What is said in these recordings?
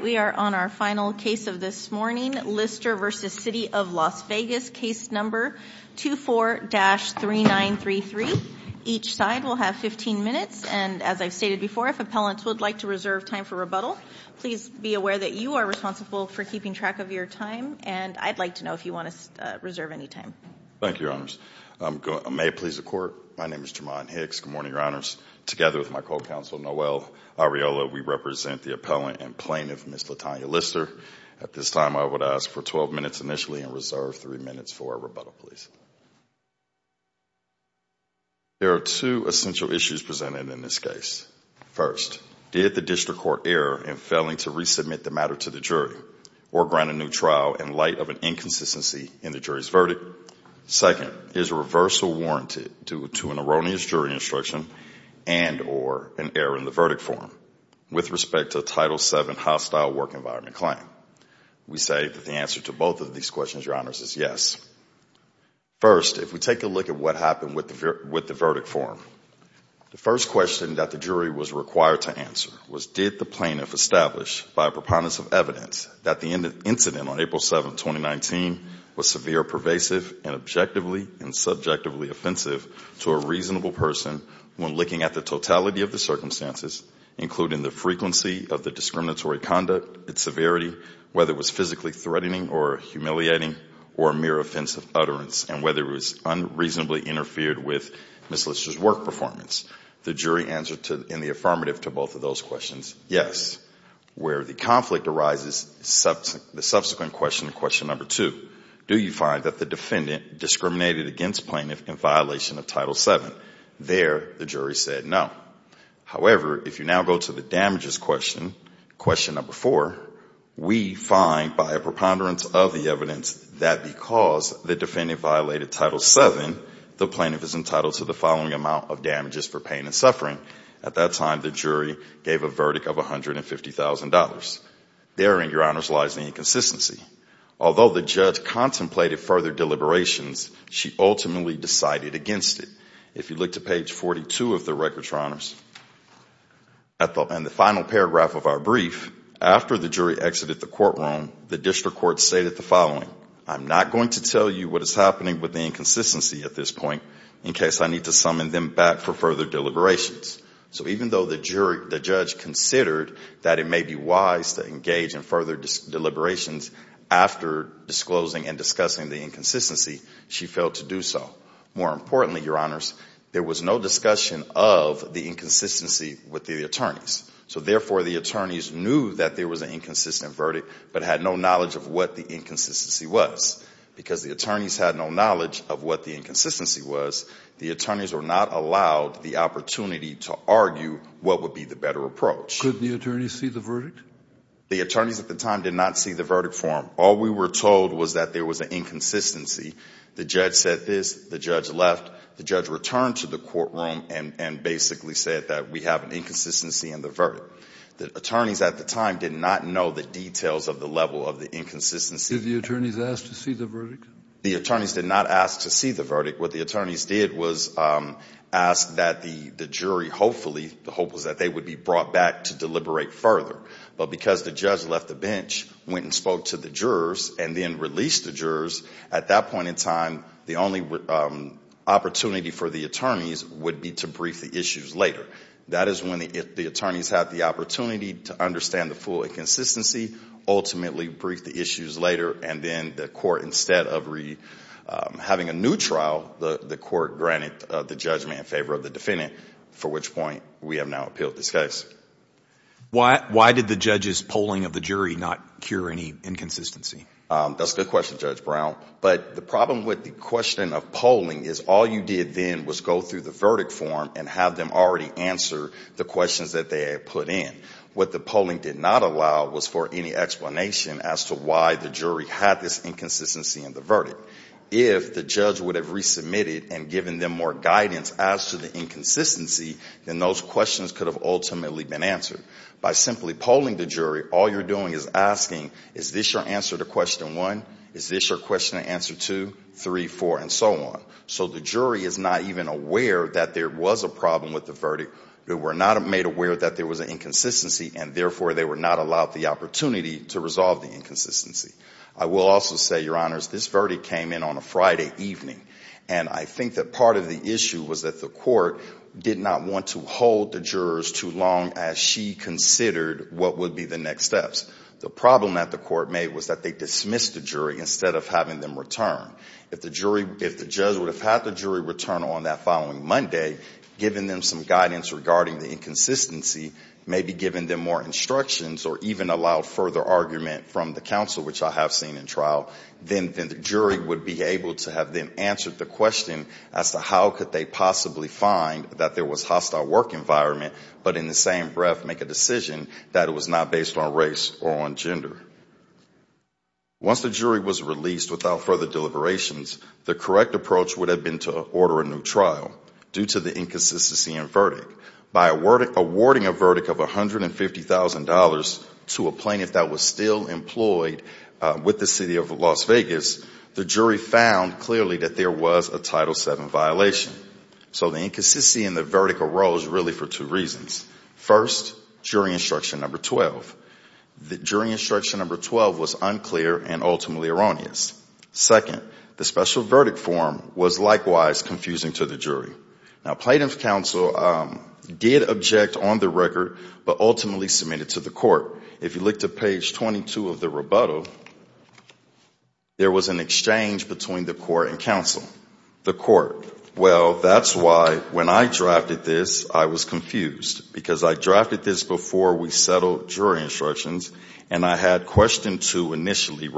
We are on our final case of this morning, Lister v. City of Las Vegas, case number 24-3933. Each side will have 15 minutes, and as I've stated before, if appellants would like to reserve time for rebuttal, please be aware that you are responsible for keeping track of your time, and I'd like to know if you want to reserve any time. Thank you, Your Honors. May it please the Court, my name is Jermon Hicks, good morning, Your Honors. Together with my co-counsel, Noel Arriola, we represent the appellant and plaintiff, Ms. Latonya Lister. At this time, I would ask for 12 minutes initially and reserve 3 minutes for rebuttal, please. There are two essential issues presented in this case. First, did the district court err in failing to resubmit the matter to the jury or grant a new trial in light of an inconsistency in the jury's verdict? Second, is a reversal warranted due to an erroneous jury instruction and or an error in the verdict form with respect to a Title VII hostile work environment claim? We say that the answer to both of these questions, Your Honors, is yes. First, if we take a look at what happened with the verdict form, the first question that the jury was required to answer was did the plaintiff establish by a preponderance of evidence that the incident on April 7, 2019, was severe, pervasive, and objectively and subjectively offensive to a reasonable person when looking at the totality of the circumstances, including the frequency of the discriminatory conduct, its severity, whether it was physically threatening or humiliating, or mere offensive utterance, and whether it was unreasonably interfered with Ms. Lister's work performance? The jury answered in the affirmative to both of those questions, yes. Where the conflict arises, the subsequent question, question number two, do you find that the defendant discriminated against plaintiff in violation of Title VII? There, the jury said no. However, if you now go to the damages question, question number four, we find by a preponderance of the evidence that because the defendant violated Title VII, the plaintiff is entitled to the following amount of damages for pain and suffering. At that time, the jury gave a verdict of $150,000. Therein, Your Honors, lies the inconsistency. Although the judge contemplated further deliberations, she ultimately decided against it. If you look to page 42 of the records, Your Honors, and the final paragraph of our brief, after the jury exited the courtroom, the district court stated the following, I'm not going to tell you what is happening with the inconsistency at this point in case I need to summon them back for further deliberations. So even though the judge considered that it may be wise to engage in further deliberations after disclosing and discussing the inconsistency, she failed to do so. More importantly, Your Honors, there was no discussion of the inconsistency with the attorneys. So therefore, the attorneys knew that there was an inconsistent verdict, but had no knowledge of what the inconsistency was. Because the attorneys had no knowledge of what the inconsistency was, the attorneys were not allowed the opportunity to argue what would be the better approach. Could the attorneys see the verdict? The attorneys at the time did not see the verdict form. All we were told was that there was an inconsistency. The judge said this. The judge left. The judge returned to the courtroom and basically said that we have an inconsistency in the verdict. The attorneys at the time did not know the details of the level of the inconsistency. Did the attorneys ask to see the verdict? The attorneys did not ask to see the verdict. What the attorneys did was ask that the jury hopefully, the hope was that they would be brought back to deliberate further. But because the judge left the bench, went and spoke to the jurors, and then released the jurors, at that point in time, the only opportunity for the attorneys would be to brief the issues later. That is when the attorneys have the opportunity to understand the full inconsistency, ultimately brief the issues later, and then the court, instead of having a new trial, the court granted the judgment in favor of the defendant, for which point we have now appealed this case. Why did the judge's polling of the jury not cure any inconsistency? That's a good question, Judge Brown. But the problem with the question of polling is all you did then was go through the verdict form and have them already answer the questions that they had put in. What the polling did not allow was for any explanation as to why the jury had this inconsistency in the verdict. If the judge would have resubmitted and given them more guidance as to the inconsistency, then those questions could have ultimately been answered. By simply polling the jury, all you're doing is asking, is this your answer to question one? Is this your question to answer two, three, four, and so on? So the jury is not even aware that there was a problem with the verdict. They were not made aware that there was an inconsistency, and therefore they were not allowed the opportunity to resolve the inconsistency. I will also say, Your Honors, this verdict came in on a Friday evening. And I think that part of the issue was that the court did not want to hold the jurors too long as she considered what would be the next steps. The problem that the court made was that they dismissed the jury instead of having them return. If the judge would have had the jury return on that following Monday, given them some guidance regarding the inconsistency, maybe given them more instructions or even allowed further argument from the counsel, which I have seen in trial, then the jury would be able to have them answer the question as to how could they possibly find that there was hostile work environment, but in the same breath make a decision that it was not based on race or on gender. Once the jury was released without further deliberations, the correct approach would have been to order a new trial. Due to the inconsistency in verdict, by awarding a verdict of $150,000 to a plaintiff that was still employed with the City of Las Vegas, the jury found clearly that there was a Title VII violation. So the inconsistency in the verdict arose really for two reasons. First, jury instruction number 12. The jury instruction number 12 was unclear and ultimately erroneous. Second, the special verdict form was likewise confusing to the jury. Now, Plaintiff's counsel did object on the record but ultimately submitted to the court. If you look to page 22 of the rebuttal, there was an exchange between the court and counsel. The court, well, that's why when I drafted this, I was confused because I drafted this before we settled jury instructions and I had question two initially,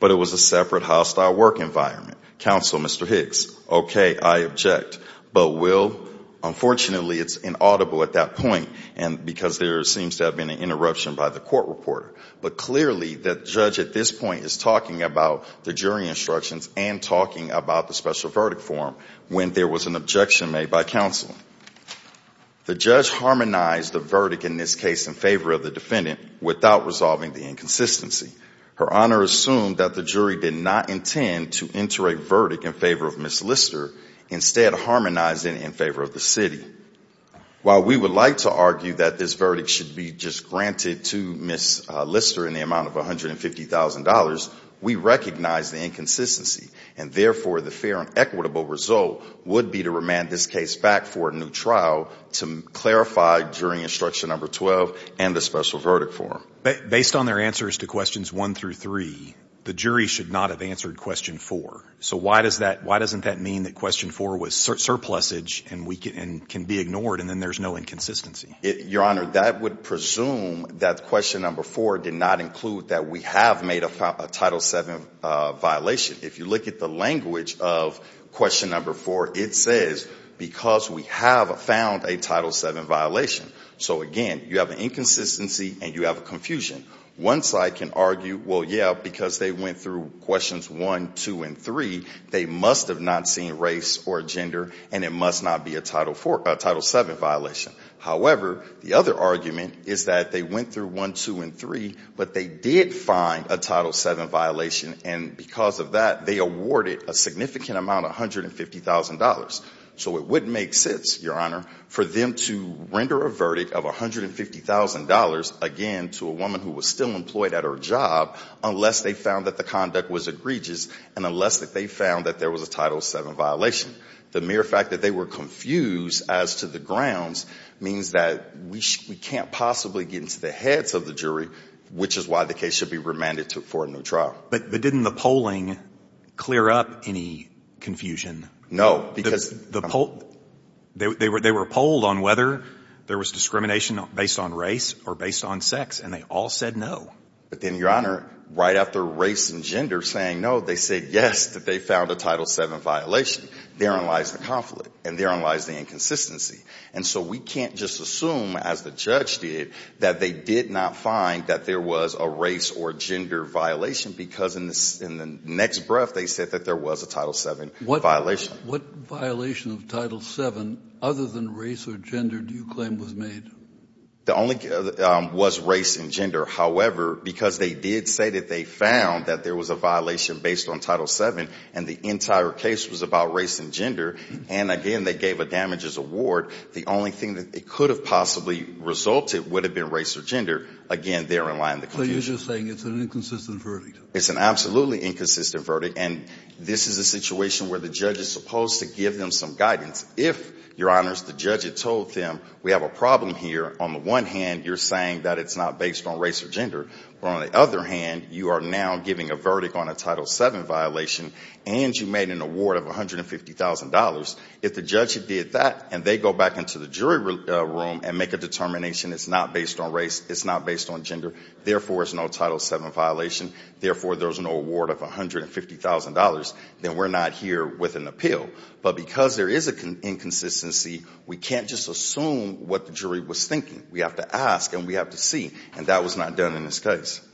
but it was a separate hostile work environment. Counsel, Mr. Hicks, okay, I object, but will, unfortunately, it's inaudible at that point because there seems to have been an interruption by the court reporter. But clearly, the judge at this point is talking about the jury instructions and talking about the special verdict form when there was an objection made by counsel. The judge harmonized the verdict in this case in favor of the defendant without resolving the inconsistency. Her honor assumed that the jury did not intend to enter a verdict in favor of Ms. Lister, instead harmonizing in favor of the city. While we would like to argue that this verdict should be just granted to Ms. Lister in the amount of $150,000, we recognize the inconsistency and, therefore, the fair and equitable result would be to remand this case back for a new trial to clarify jury instruction number 12 and the special verdict form. Based on their answers to questions one through three, the jury should not have answered question four. So why does that, why doesn't that mean that question four was surplusage and can be ignored and then there's no inconsistency? Your honor, that would presume that question number four did not include that we have made a Title VII violation. If you look at the language of question number four, it says because we have found a Title VII violation. So, again, you have an inconsistency and you have a confusion. One side can argue, well, yeah, because they went through questions one, two, and three, they must have not seen race or gender and it must not be a Title VII violation. However, the other argument is that they went through one, two, and three, but they did find a Title VII violation and because of that, they awarded a significant amount of $150,000. So it wouldn't make sense, your honor, for them to render a verdict of $150,000, again, to a woman who was still employed at her job unless they found that the conduct was egregious and unless that they found that there was a Title VII violation. The mere fact that they were confused as to the grounds means that we can't possibly get into the heads of the jury, which is why the case should be remanded for a new trial. But didn't the polling clear up any confusion? No. Because the poll, they were polled on whether there was discrimination based on race or based on sex and they all said no. But then, your honor, right after race and gender saying no, they said yes, that they found a Title VII violation. Therein lies the conflict and therein lies the inconsistency. And so we can't just assume, as the judge did, that they did not find that there was a race or gender violation because in the next breath, they said that there was a Title VII violation. What violation of Title VII, other than race or gender, do you claim was made? The only, was race and gender. However, because they did say that they found that there was a violation based on Title VII and the entire case was about race and gender, and again, they gave a damages award, the only thing that it could have possibly resulted would have been race or gender. Again, therein lies the confusion. So you're just saying it's an inconsistent verdict? It's an absolutely inconsistent verdict and this is a situation where the judge is supposed to give them some guidance. If, your honors, the judge had told them we have a problem here, on the one hand, you're saying that it's not based on race or gender. On the other hand, you are now giving a verdict on a Title VII violation and you made an award of $150,000. If the judge did that and they go back into the jury room and make a determination it's not based on race, it's not based on gender, therefore, it's no Title VII violation, therefore, there's no award of $150,000, then we're not here with an appeal. But because there is an inconsistency, we can't just assume what the jury was thinking. We have to ask and we have to see and that was not done in this case.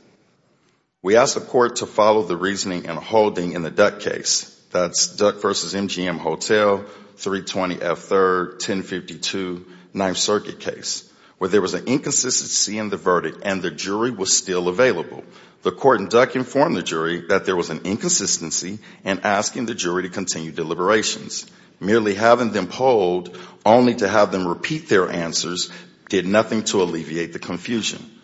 We asked the court to follow the reasoning and holding in the Duck case, that's Duck versus MGM Hotel, 320F3rd, 1052, 9th Circuit case, where there was an inconsistency in the verdict and the jury was still available. The court in Duck informed the jury that there was an inconsistency and asking the jury to continue deliberations. Merely having them polled only to have them repeat their answers did nothing to alleviate the confusion.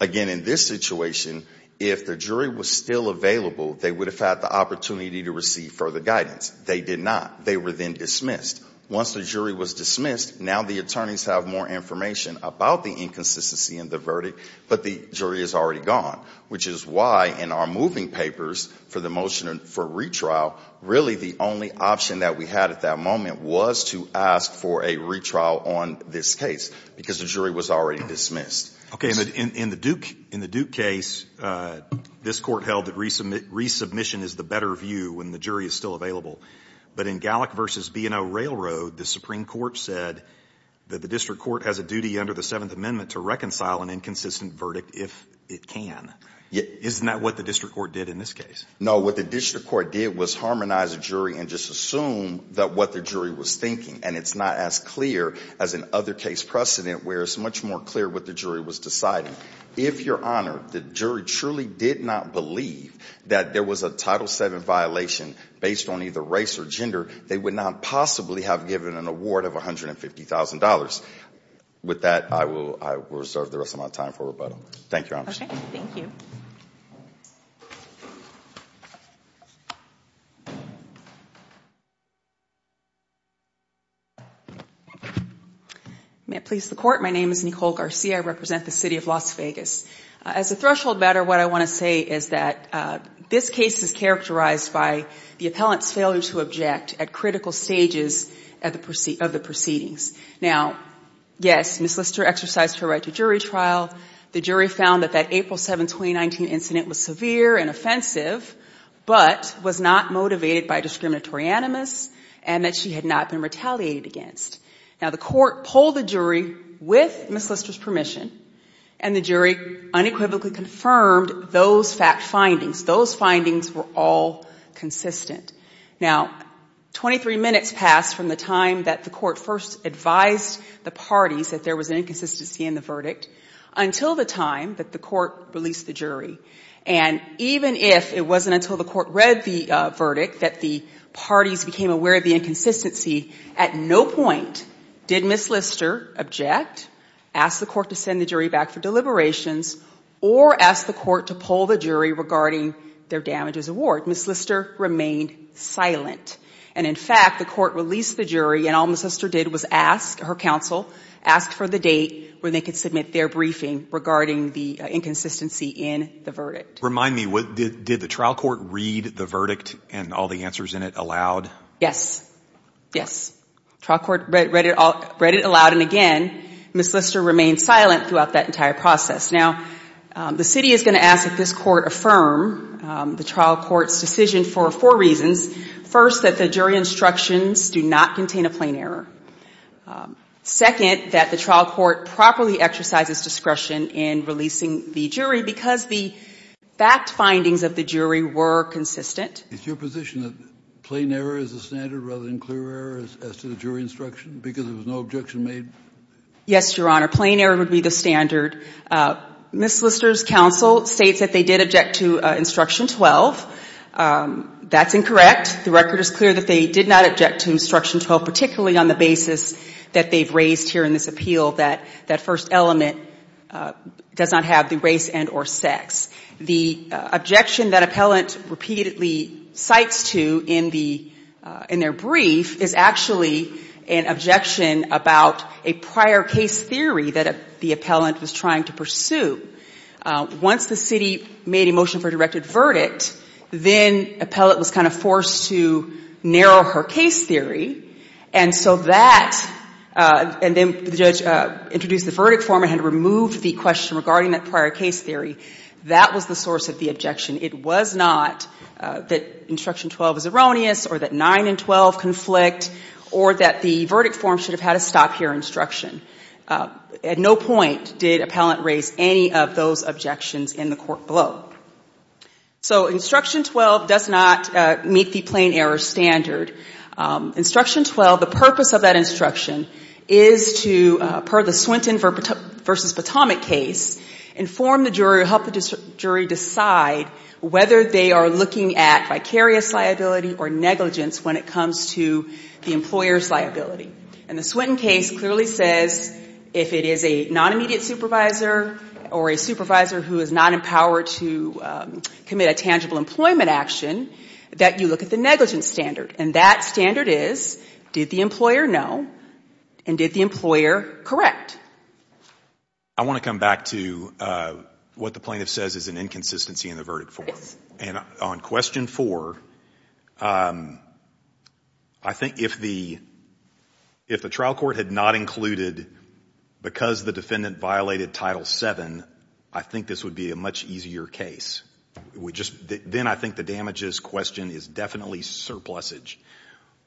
Again, in this situation, if the jury was still available, they would have had the opportunity to receive further guidance. They did not. They were then dismissed. Once the jury was dismissed, now the attorneys have more information about the inconsistency in the verdict, but the jury is already gone. Which is why in our moving papers for the motion for retrial, really the only option that we had at that moment was to ask for a retrial on this case because the jury was already dismissed. Okay, in the Duke case, this court held that resubmission is the better view when the jury is still available, but in Gallick versus B&O Railroad, the Supreme Court said that the district court has a duty under the 7th Amendment to reconcile an inconsistent verdict if it can. Isn't that what the district court did in this case? No, what the district court did was harmonize the jury and just assume that what the jury was thinking, and it's not as clear as in other case precedent where it's much more clear what the jury was deciding. If, Your Honor, the jury truly did not believe that there was a Title VII violation based on either race or gender, they would not possibly have given an award of $150,000. With that, I will reserve the rest of my time for rebuttal. Thank you, Your Honor. Okay, thank you. May it please the Court, my name is Nicole Garcia, I represent the City of Las Vegas. As a threshold matter, what I want to say is that this case is characterized by the appellant's failure to object at critical stages of the proceedings. Now, yes, Ms. Lister exercised her right to jury trial. The jury found that that April 7, 2019 incident was severe and offensive, but was not motivated by discriminatory animus, and that she had not been retaliated against. Now, the court polled the jury with Ms. Lister's permission, and the jury unequivocally confirmed those fact findings. Those findings were all consistent. Now, 23 minutes passed from the time that the court first advised the parties that there was an inconsistency in the verdict until the time that the court released the jury. And even if it wasn't until the court read the verdict that the parties became aware of the inconsistency, at no point did Ms. Lister object, ask the court to send the jury back for deliberations, or ask the court to poll the jury regarding their damages award. Ms. Lister remained silent, and in fact, the court released the jury, and all Ms. Lister did was ask her counsel, ask for the date where they could submit their briefing regarding the inconsistency in the verdict. Remind me, did the trial court read the verdict and all the answers in it aloud? Yes. Yes. Trial court read it aloud, and again, Ms. Lister remained silent throughout that entire process. Now, the city is going to ask that this court affirm the trial court's decision for four reasons. First, that the jury instructions do not contain a plain error. Second, that the trial court properly exercises discretion in releasing the jury because the fact findings of the jury were consistent. Is your position that plain error is the standard rather than clear error as to the jury instruction because there was no objection made? Yes, Your Honor. Plain error would be the standard. Ms. Lister's counsel states that they did object to Instruction 12. That's incorrect. The record is clear that they did not object to Instruction 12, particularly on the basis that they've raised here in this appeal that that first element does not have the race and or sex. The objection that appellant repeatedly cites to in their brief is actually an objection about a prior case theory that the appellant was trying to pursue. Once the city made a motion for a directed verdict, then appellant was kind of forced to narrow her case theory, and so that, and then the judge introduced the verdict form and had removed the question regarding that prior case theory. That was the source of the objection. It was not that Instruction 12 is erroneous or that 9 and 12 conflict or that the verdict form should have had a stop here instruction. At no point did appellant raise any of those objections in the court below. So Instruction 12 does not meet the plain error standard. Instruction 12, the purpose of that instruction is to, per the Swinton versus Potomac case, inform the jury or help the jury decide whether they are looking at vicarious liability or negligence when it comes to the employer's liability. And the Swinton case clearly says if it is a non-immediate supervisor or a supervisor who is not empowered to commit a tangible employment action, that you look at the negligence standard. And that standard is, did the employer know and did the employer correct? I want to come back to what the plaintiff says is an inconsistency in the verdict form. And on question 4, I think if the trial court had not included because the defendant violated Title 7, I think this would be a much easier case. Then I think the damages question is definitely surplusage.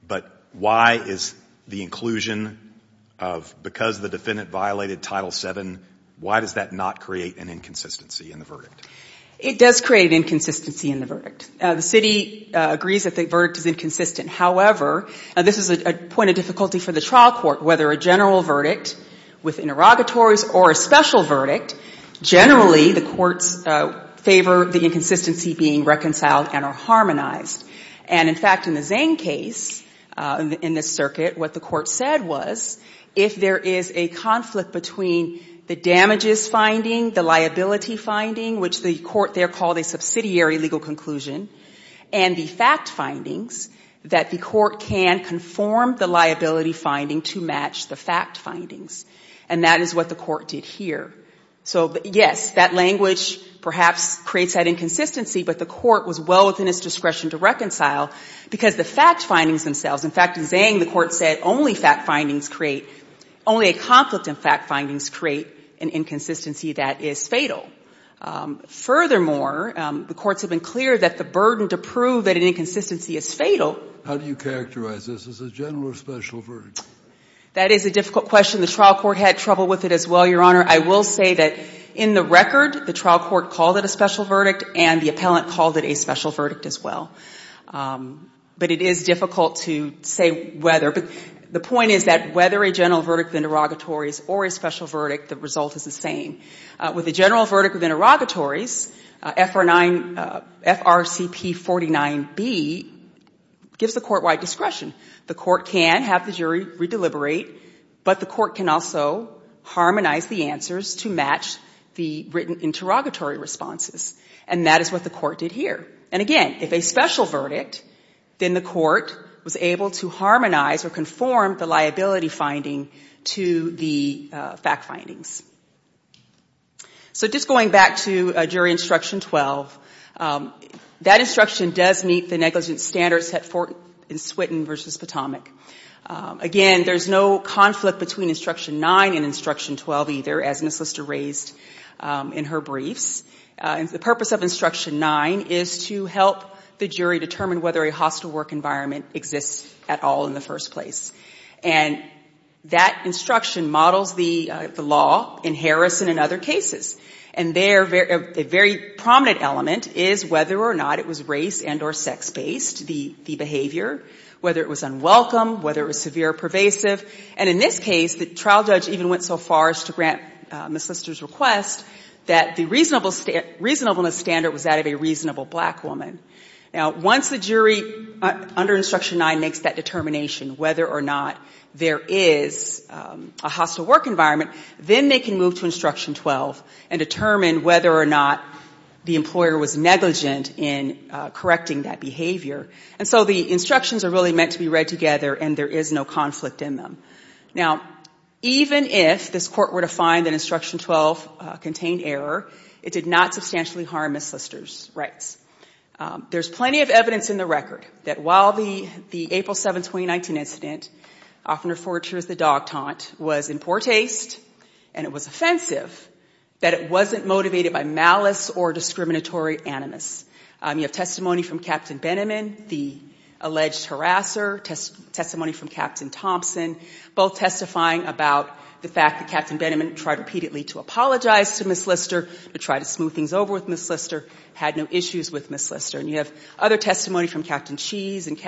But why is the inclusion of because the defendant violated Title 7, why does that not create an inconsistency in the verdict? It does create an inconsistency in the verdict. The city agrees that the verdict is inconsistent. However, this is a point of difficulty for the trial court, whether a general verdict with interrogatories or a special verdict, generally the courts favor the inconsistency being reconciled and are harmonized. And in fact, in the Zane case, in this circuit, what the court said was if there is a conflict between the damages finding, the liability finding, which the court there called a subsidiary legal conclusion, and the fact findings, that the court can conform the liability finding to match the fact findings. And that is what the court did here. So yes, that language perhaps creates that inconsistency, but the court was well within its discretion to reconcile because the fact findings themselves, in fact in Zane the court said only fact findings create, only a conflict in fact findings create an inconsistency that is fatal. Furthermore, the courts have been clear that the burden to prove that an inconsistency is fatal. How do you characterize this as a general or special verdict? That is a difficult question. The trial court had trouble with it as well, Your Honor. I will say that in the record, the trial court called it a special verdict and the appellant called it a special verdict as well. But it is difficult to say whether. The point is that whether a general verdict of interrogatories or a special verdict, the result is the same. With a general verdict of interrogatories, FRCP 49B gives the court wide discretion. The court can have the jury re-deliberate, but the court can also harmonize the answers to match the written interrogatory responses. And that is what the court did here. And again, if a special verdict, then the court was able to harmonize or conform the liability finding to the fact findings. So just going back to jury instruction 12, that instruction does meet the negligence standards set forth in Swinton v. Potomac. Again, there is no conflict between instruction 9 and instruction 12 either, as Ms. Lister raised in her briefs. The purpose of instruction 9 is to help the jury determine whether a hostile work environment exists at all in the first place. And that instruction models the law in Harrison and other cases. And a very prominent element is whether or not it was race and or sex-based, the behavior, whether it was unwelcome, whether it was severe or pervasive. And in this case, the trial judge even went so far as to grant Ms. Lister's request that the reasonableness standard was that of a reasonable black woman. Now, once the jury under instruction 9 makes that determination whether or not there is a hostile work environment, then they can move to instruction 12 and determine whether or not the employer was negligent in correcting that behavior. And so the instructions are really meant to be read together, and there is no conflict in them. Now, even if this court were to find that instruction 12 contained error, it did not substantially harm Ms. Lister's rights. There's plenty of evidence in the record that while the April 7, 2019 incident, often referred to as the dog taunt, was in poor taste and it was offensive, that it wasn't motivated by malice or discriminatory animus. You have testimony from Captain Beniman, the alleged harasser, testimony from Captain Thompson, both testifying about the fact that Captain Beniman tried repeatedly to apologize to Ms. Lister, to try to smooth things over with Ms. Lister, had no issues with Ms. Lister. And you have other testimony from Captain Cheese and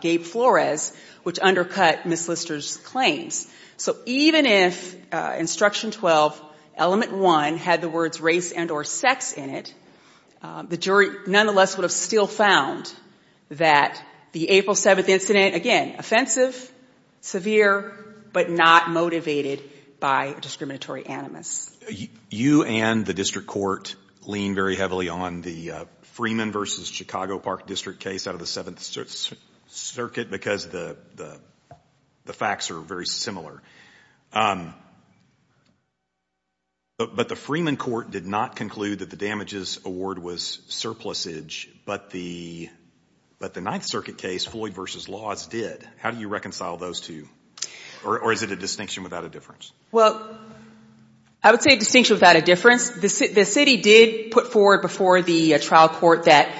Gabe Flores, which undercut Ms. Lister's claims. So even if instruction 12, element 1, had the words race and or sex in it, the jury nonetheless would have still found that the April 7 incident, again, offensive, severe, but not motivated by discriminatory animus. You and the district court lean very heavily on the Freeman versus Chicago Park district case out of the 7th Circuit because the facts are very similar. But the Freeman court did not conclude that the damages award was surplusage, but the 9th Circuit case, Floyd versus Laws, did. How do you reconcile those two? Or is it a distinction without a difference? Well, I would say a distinction without a difference. The city did put forward before the trial court that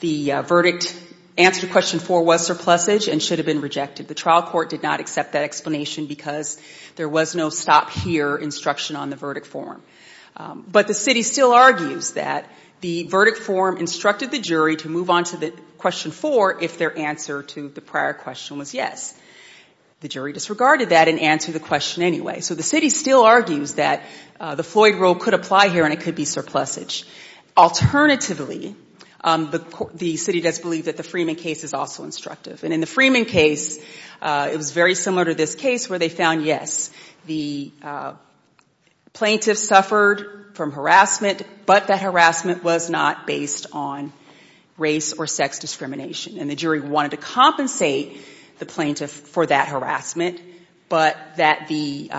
the verdict, answer to question 4, was surplusage and should have been rejected. The trial court did not accept that explanation because there was no stop here instruction on the verdict form. But the city still argues that the verdict form instructed the jury to move on to the question 4 if their answer to the prior question was yes. The jury disregarded that and answered the question anyway. So the city still argues that the Floyd rule could apply here and it could be surplusage. Alternatively, the city does believe that the Freeman case is also instructive. And in the Freeman case, it was very similar to this case where they found, yes, the plaintiff suffered from harassment, but that harassment was not based on race or sex discrimination. And the jury wanted to compensate the plaintiff for that harassment, but that they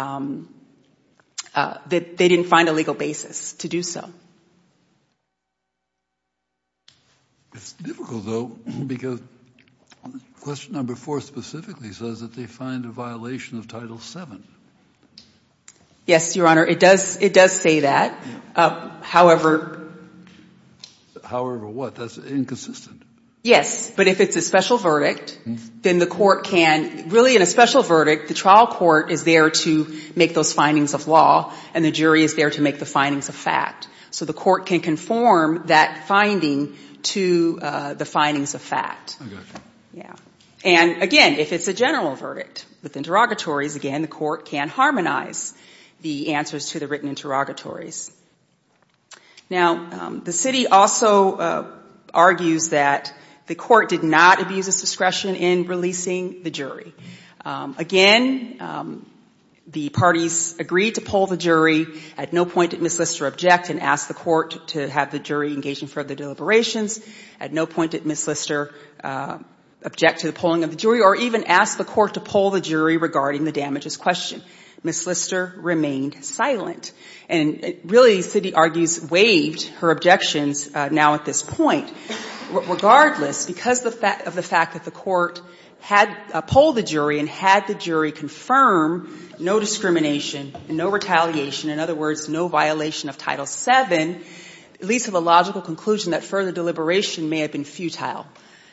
didn't find a legal basis to do so. It's difficult, though, because question number 4 specifically says that they find a violation of title 7. Yes, Your Honor, it does say that. However... However what? That's inconsistent. Yes, but if it's a special verdict, then the court can, really in a special verdict, the trial court is there to make those findings of law and the jury is there to make the findings of fact. So the court can conform that finding to the findings of fact. I gotcha. Yeah. And again, if it's a general verdict with interrogatories, again, the court can harmonize the answers to the written interrogatories. Now, the city also argues that the court did not abuse its discretion in releasing the jury. Again, the parties agreed to pull the jury. At no point did Ms. Lister object and ask the court to have the jury engage in further deliberations. At no point did Ms. Lister object to the pulling of the jury or even ask the court to pull the jury regarding the damages question. Ms. Lister remained silent. And really, the city argues, waived her objections now at this point. Regardless, because of the fact that the court had pulled the jury and had the jury confirm no discrimination and no retaliation, in other words, no violation of Title VII, it leads to the logical conclusion that further deliberation may have been futile.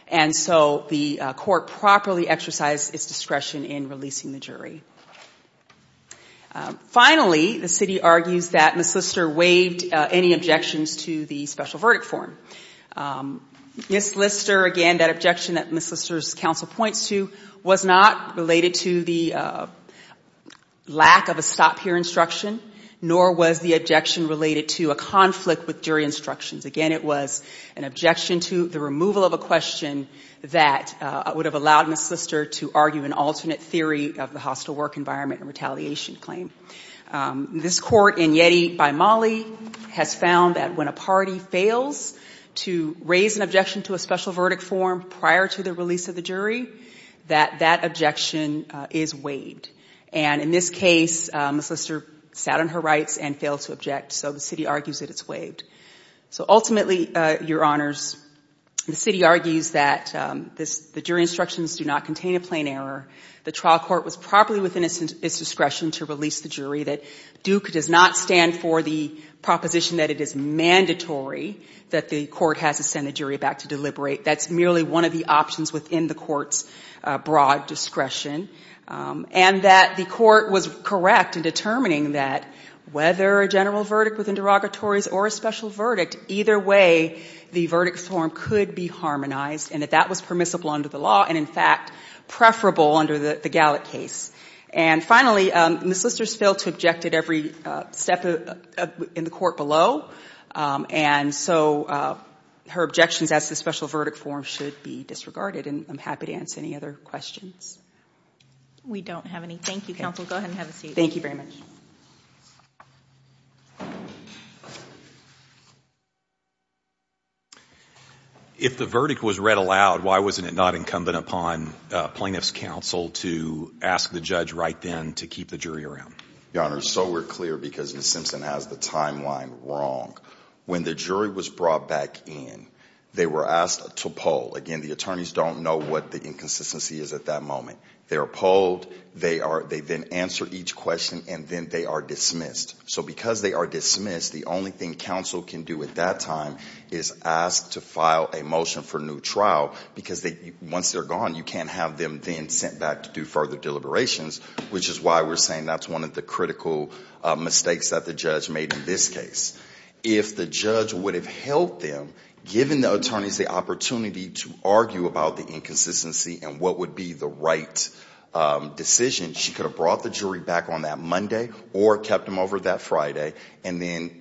And so the court properly exercised its discretion in releasing the jury. Finally, the city argues that Ms. Lister waived any objections to the special verdict form. Ms. Lister, again, that objection that Ms. Lister's counsel points to, was not related to the lack of a stop here instruction, nor was the objection related to a conflict with jury instructions. Again, it was an objection to the removal of a question that would have allowed Ms. Lister to argue an alternate theory of the hostile work environment and retaliation claim. This court in Yeti by Mali has found that when a party fails to raise an objection to a special verdict form prior to the release of the jury, that that objection is waived. And in this case, Ms. Lister sat on her rights and failed to object, so the city argues that it's waived. So ultimately, Your Honors, the city argues that the jury instructions do not contain a plain error. The trial court was properly within its discretion to release the jury, that Duke does not stand for the proposition that it is mandatory that the court has to send the jury back to deliberate. That's merely one of the options within the court's broad discretion. And that the court was correct in determining that whether a general verdict within derogatories or a special verdict, either way, the verdict form could be harmonized and that that was permissible under the law and, in fact, preferable under the Gallick case. And finally, Ms. Lister has failed to object at every step in the court below, and so her objections as to the special verdict form should be disregarded. And I'm happy to answer any other questions. We don't have any. Thank you, counsel. Go ahead and have a seat. Thank you very much. If the verdict was read aloud, why wasn't it not incumbent upon plaintiff's counsel to ask the judge right then to keep the jury around? Your Honors, so we're clear because Ms. Simpson has the timeline wrong. When the jury was brought back in, they were asked to poll. Again, the attorneys don't know what the inconsistency is at that moment. They are polled, they then answer each question, and then they are dismissed. So because they are dismissed, the only thing counsel can do at that time is ask to file a motion for new trial because once they're gone, you can't have them then sent back to do further deliberations, which is why we're saying that's one of the critical mistakes that the judge made in this case. If the judge would have held them, given the attorneys the opportunity to argue about the inconsistency and what would be the right decision, she could have brought the jury back on that Monday or kept them over that Friday and then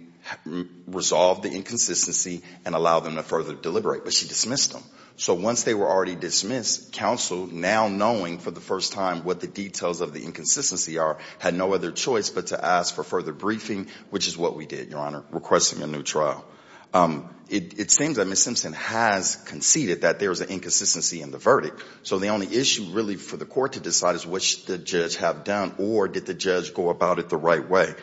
resolved the inconsistency and allowed them to further deliberate. But she dismissed them. So once they were already dismissed, counsel, now knowing for the first time what the details of the inconsistency are, had no other choice but to ask for further briefing, which is what we did, Your Honor, requesting a new trial. It seems that Ms. Simpson has conceded that there is an inconsistency in the verdict. So the only issue really for the court to decide is what should the judge have done or did the judge go about it the right way.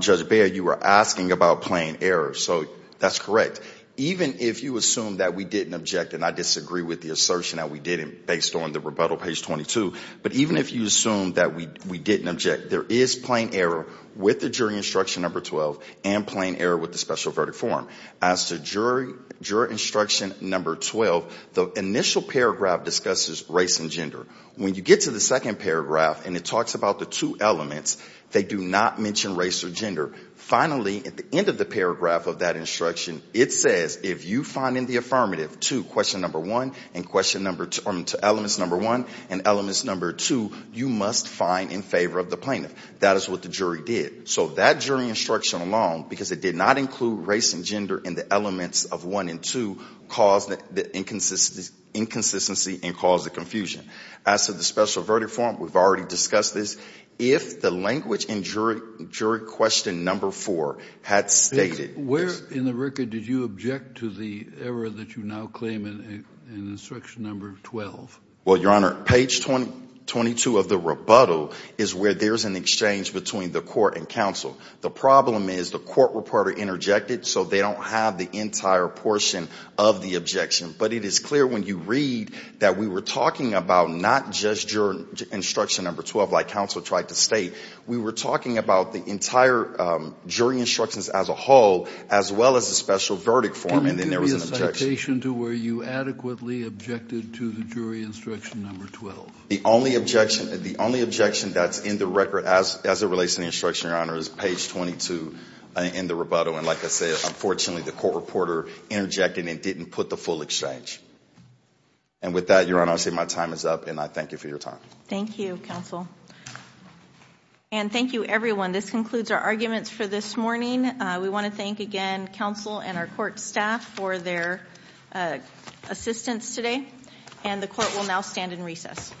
Judge Beyer, you were asking about plain error. So that's correct. Even if you assume that we didn't object, and I disagree with the assertion that we didn't based on the rebuttal, page 22, but even if you assume that we didn't object, there is plain error with the jury instruction, number 12, and plain error with the special verdict form. As to juror instruction number 12, the initial paragraph discusses race and gender. When you get to the second paragraph and it talks about the two elements, they do not mention race or gender. Finally, at the end of the paragraph of that instruction, it says if you find in the affirmative two, question number one and question number two or elements number one and elements number two, you must find in favor of the plaintiff. That is what the jury did. So that jury instruction alone, because it did not include race and gender in the elements of one and two, caused the inconsistency and caused the confusion. As to the special verdict form, we've already discussed this. If the language in jury question number four had stated this. Where in the record did you object to the error that you now claim in instruction number 12? Well, Your Honor, page 22 of the rebuttal is where there's an exchange between the court and counsel. The problem is the court reporter interjected, so they don't have the entire portion of the objection. But it is clear when you read that we were talking about not just juror instruction number 12, like counsel tried to state. We were talking about the entire jury instructions as a whole, as well as the special verdict form, and then there was an objection. In addition to where you adequately objected to the jury instruction number 12? The only objection that's in the record as it relates to the instruction, Your Honor, is page 22 in the rebuttal. And like I said, unfortunately, the court reporter interjected and didn't put the full exchange. And with that, Your Honor, I say my time is up, and I thank you for your time. Thank you, counsel. And thank you, everyone. This concludes our arguments for this morning. We want to thank again counsel and our court staff for their assistance today. And the court will now stand in recess.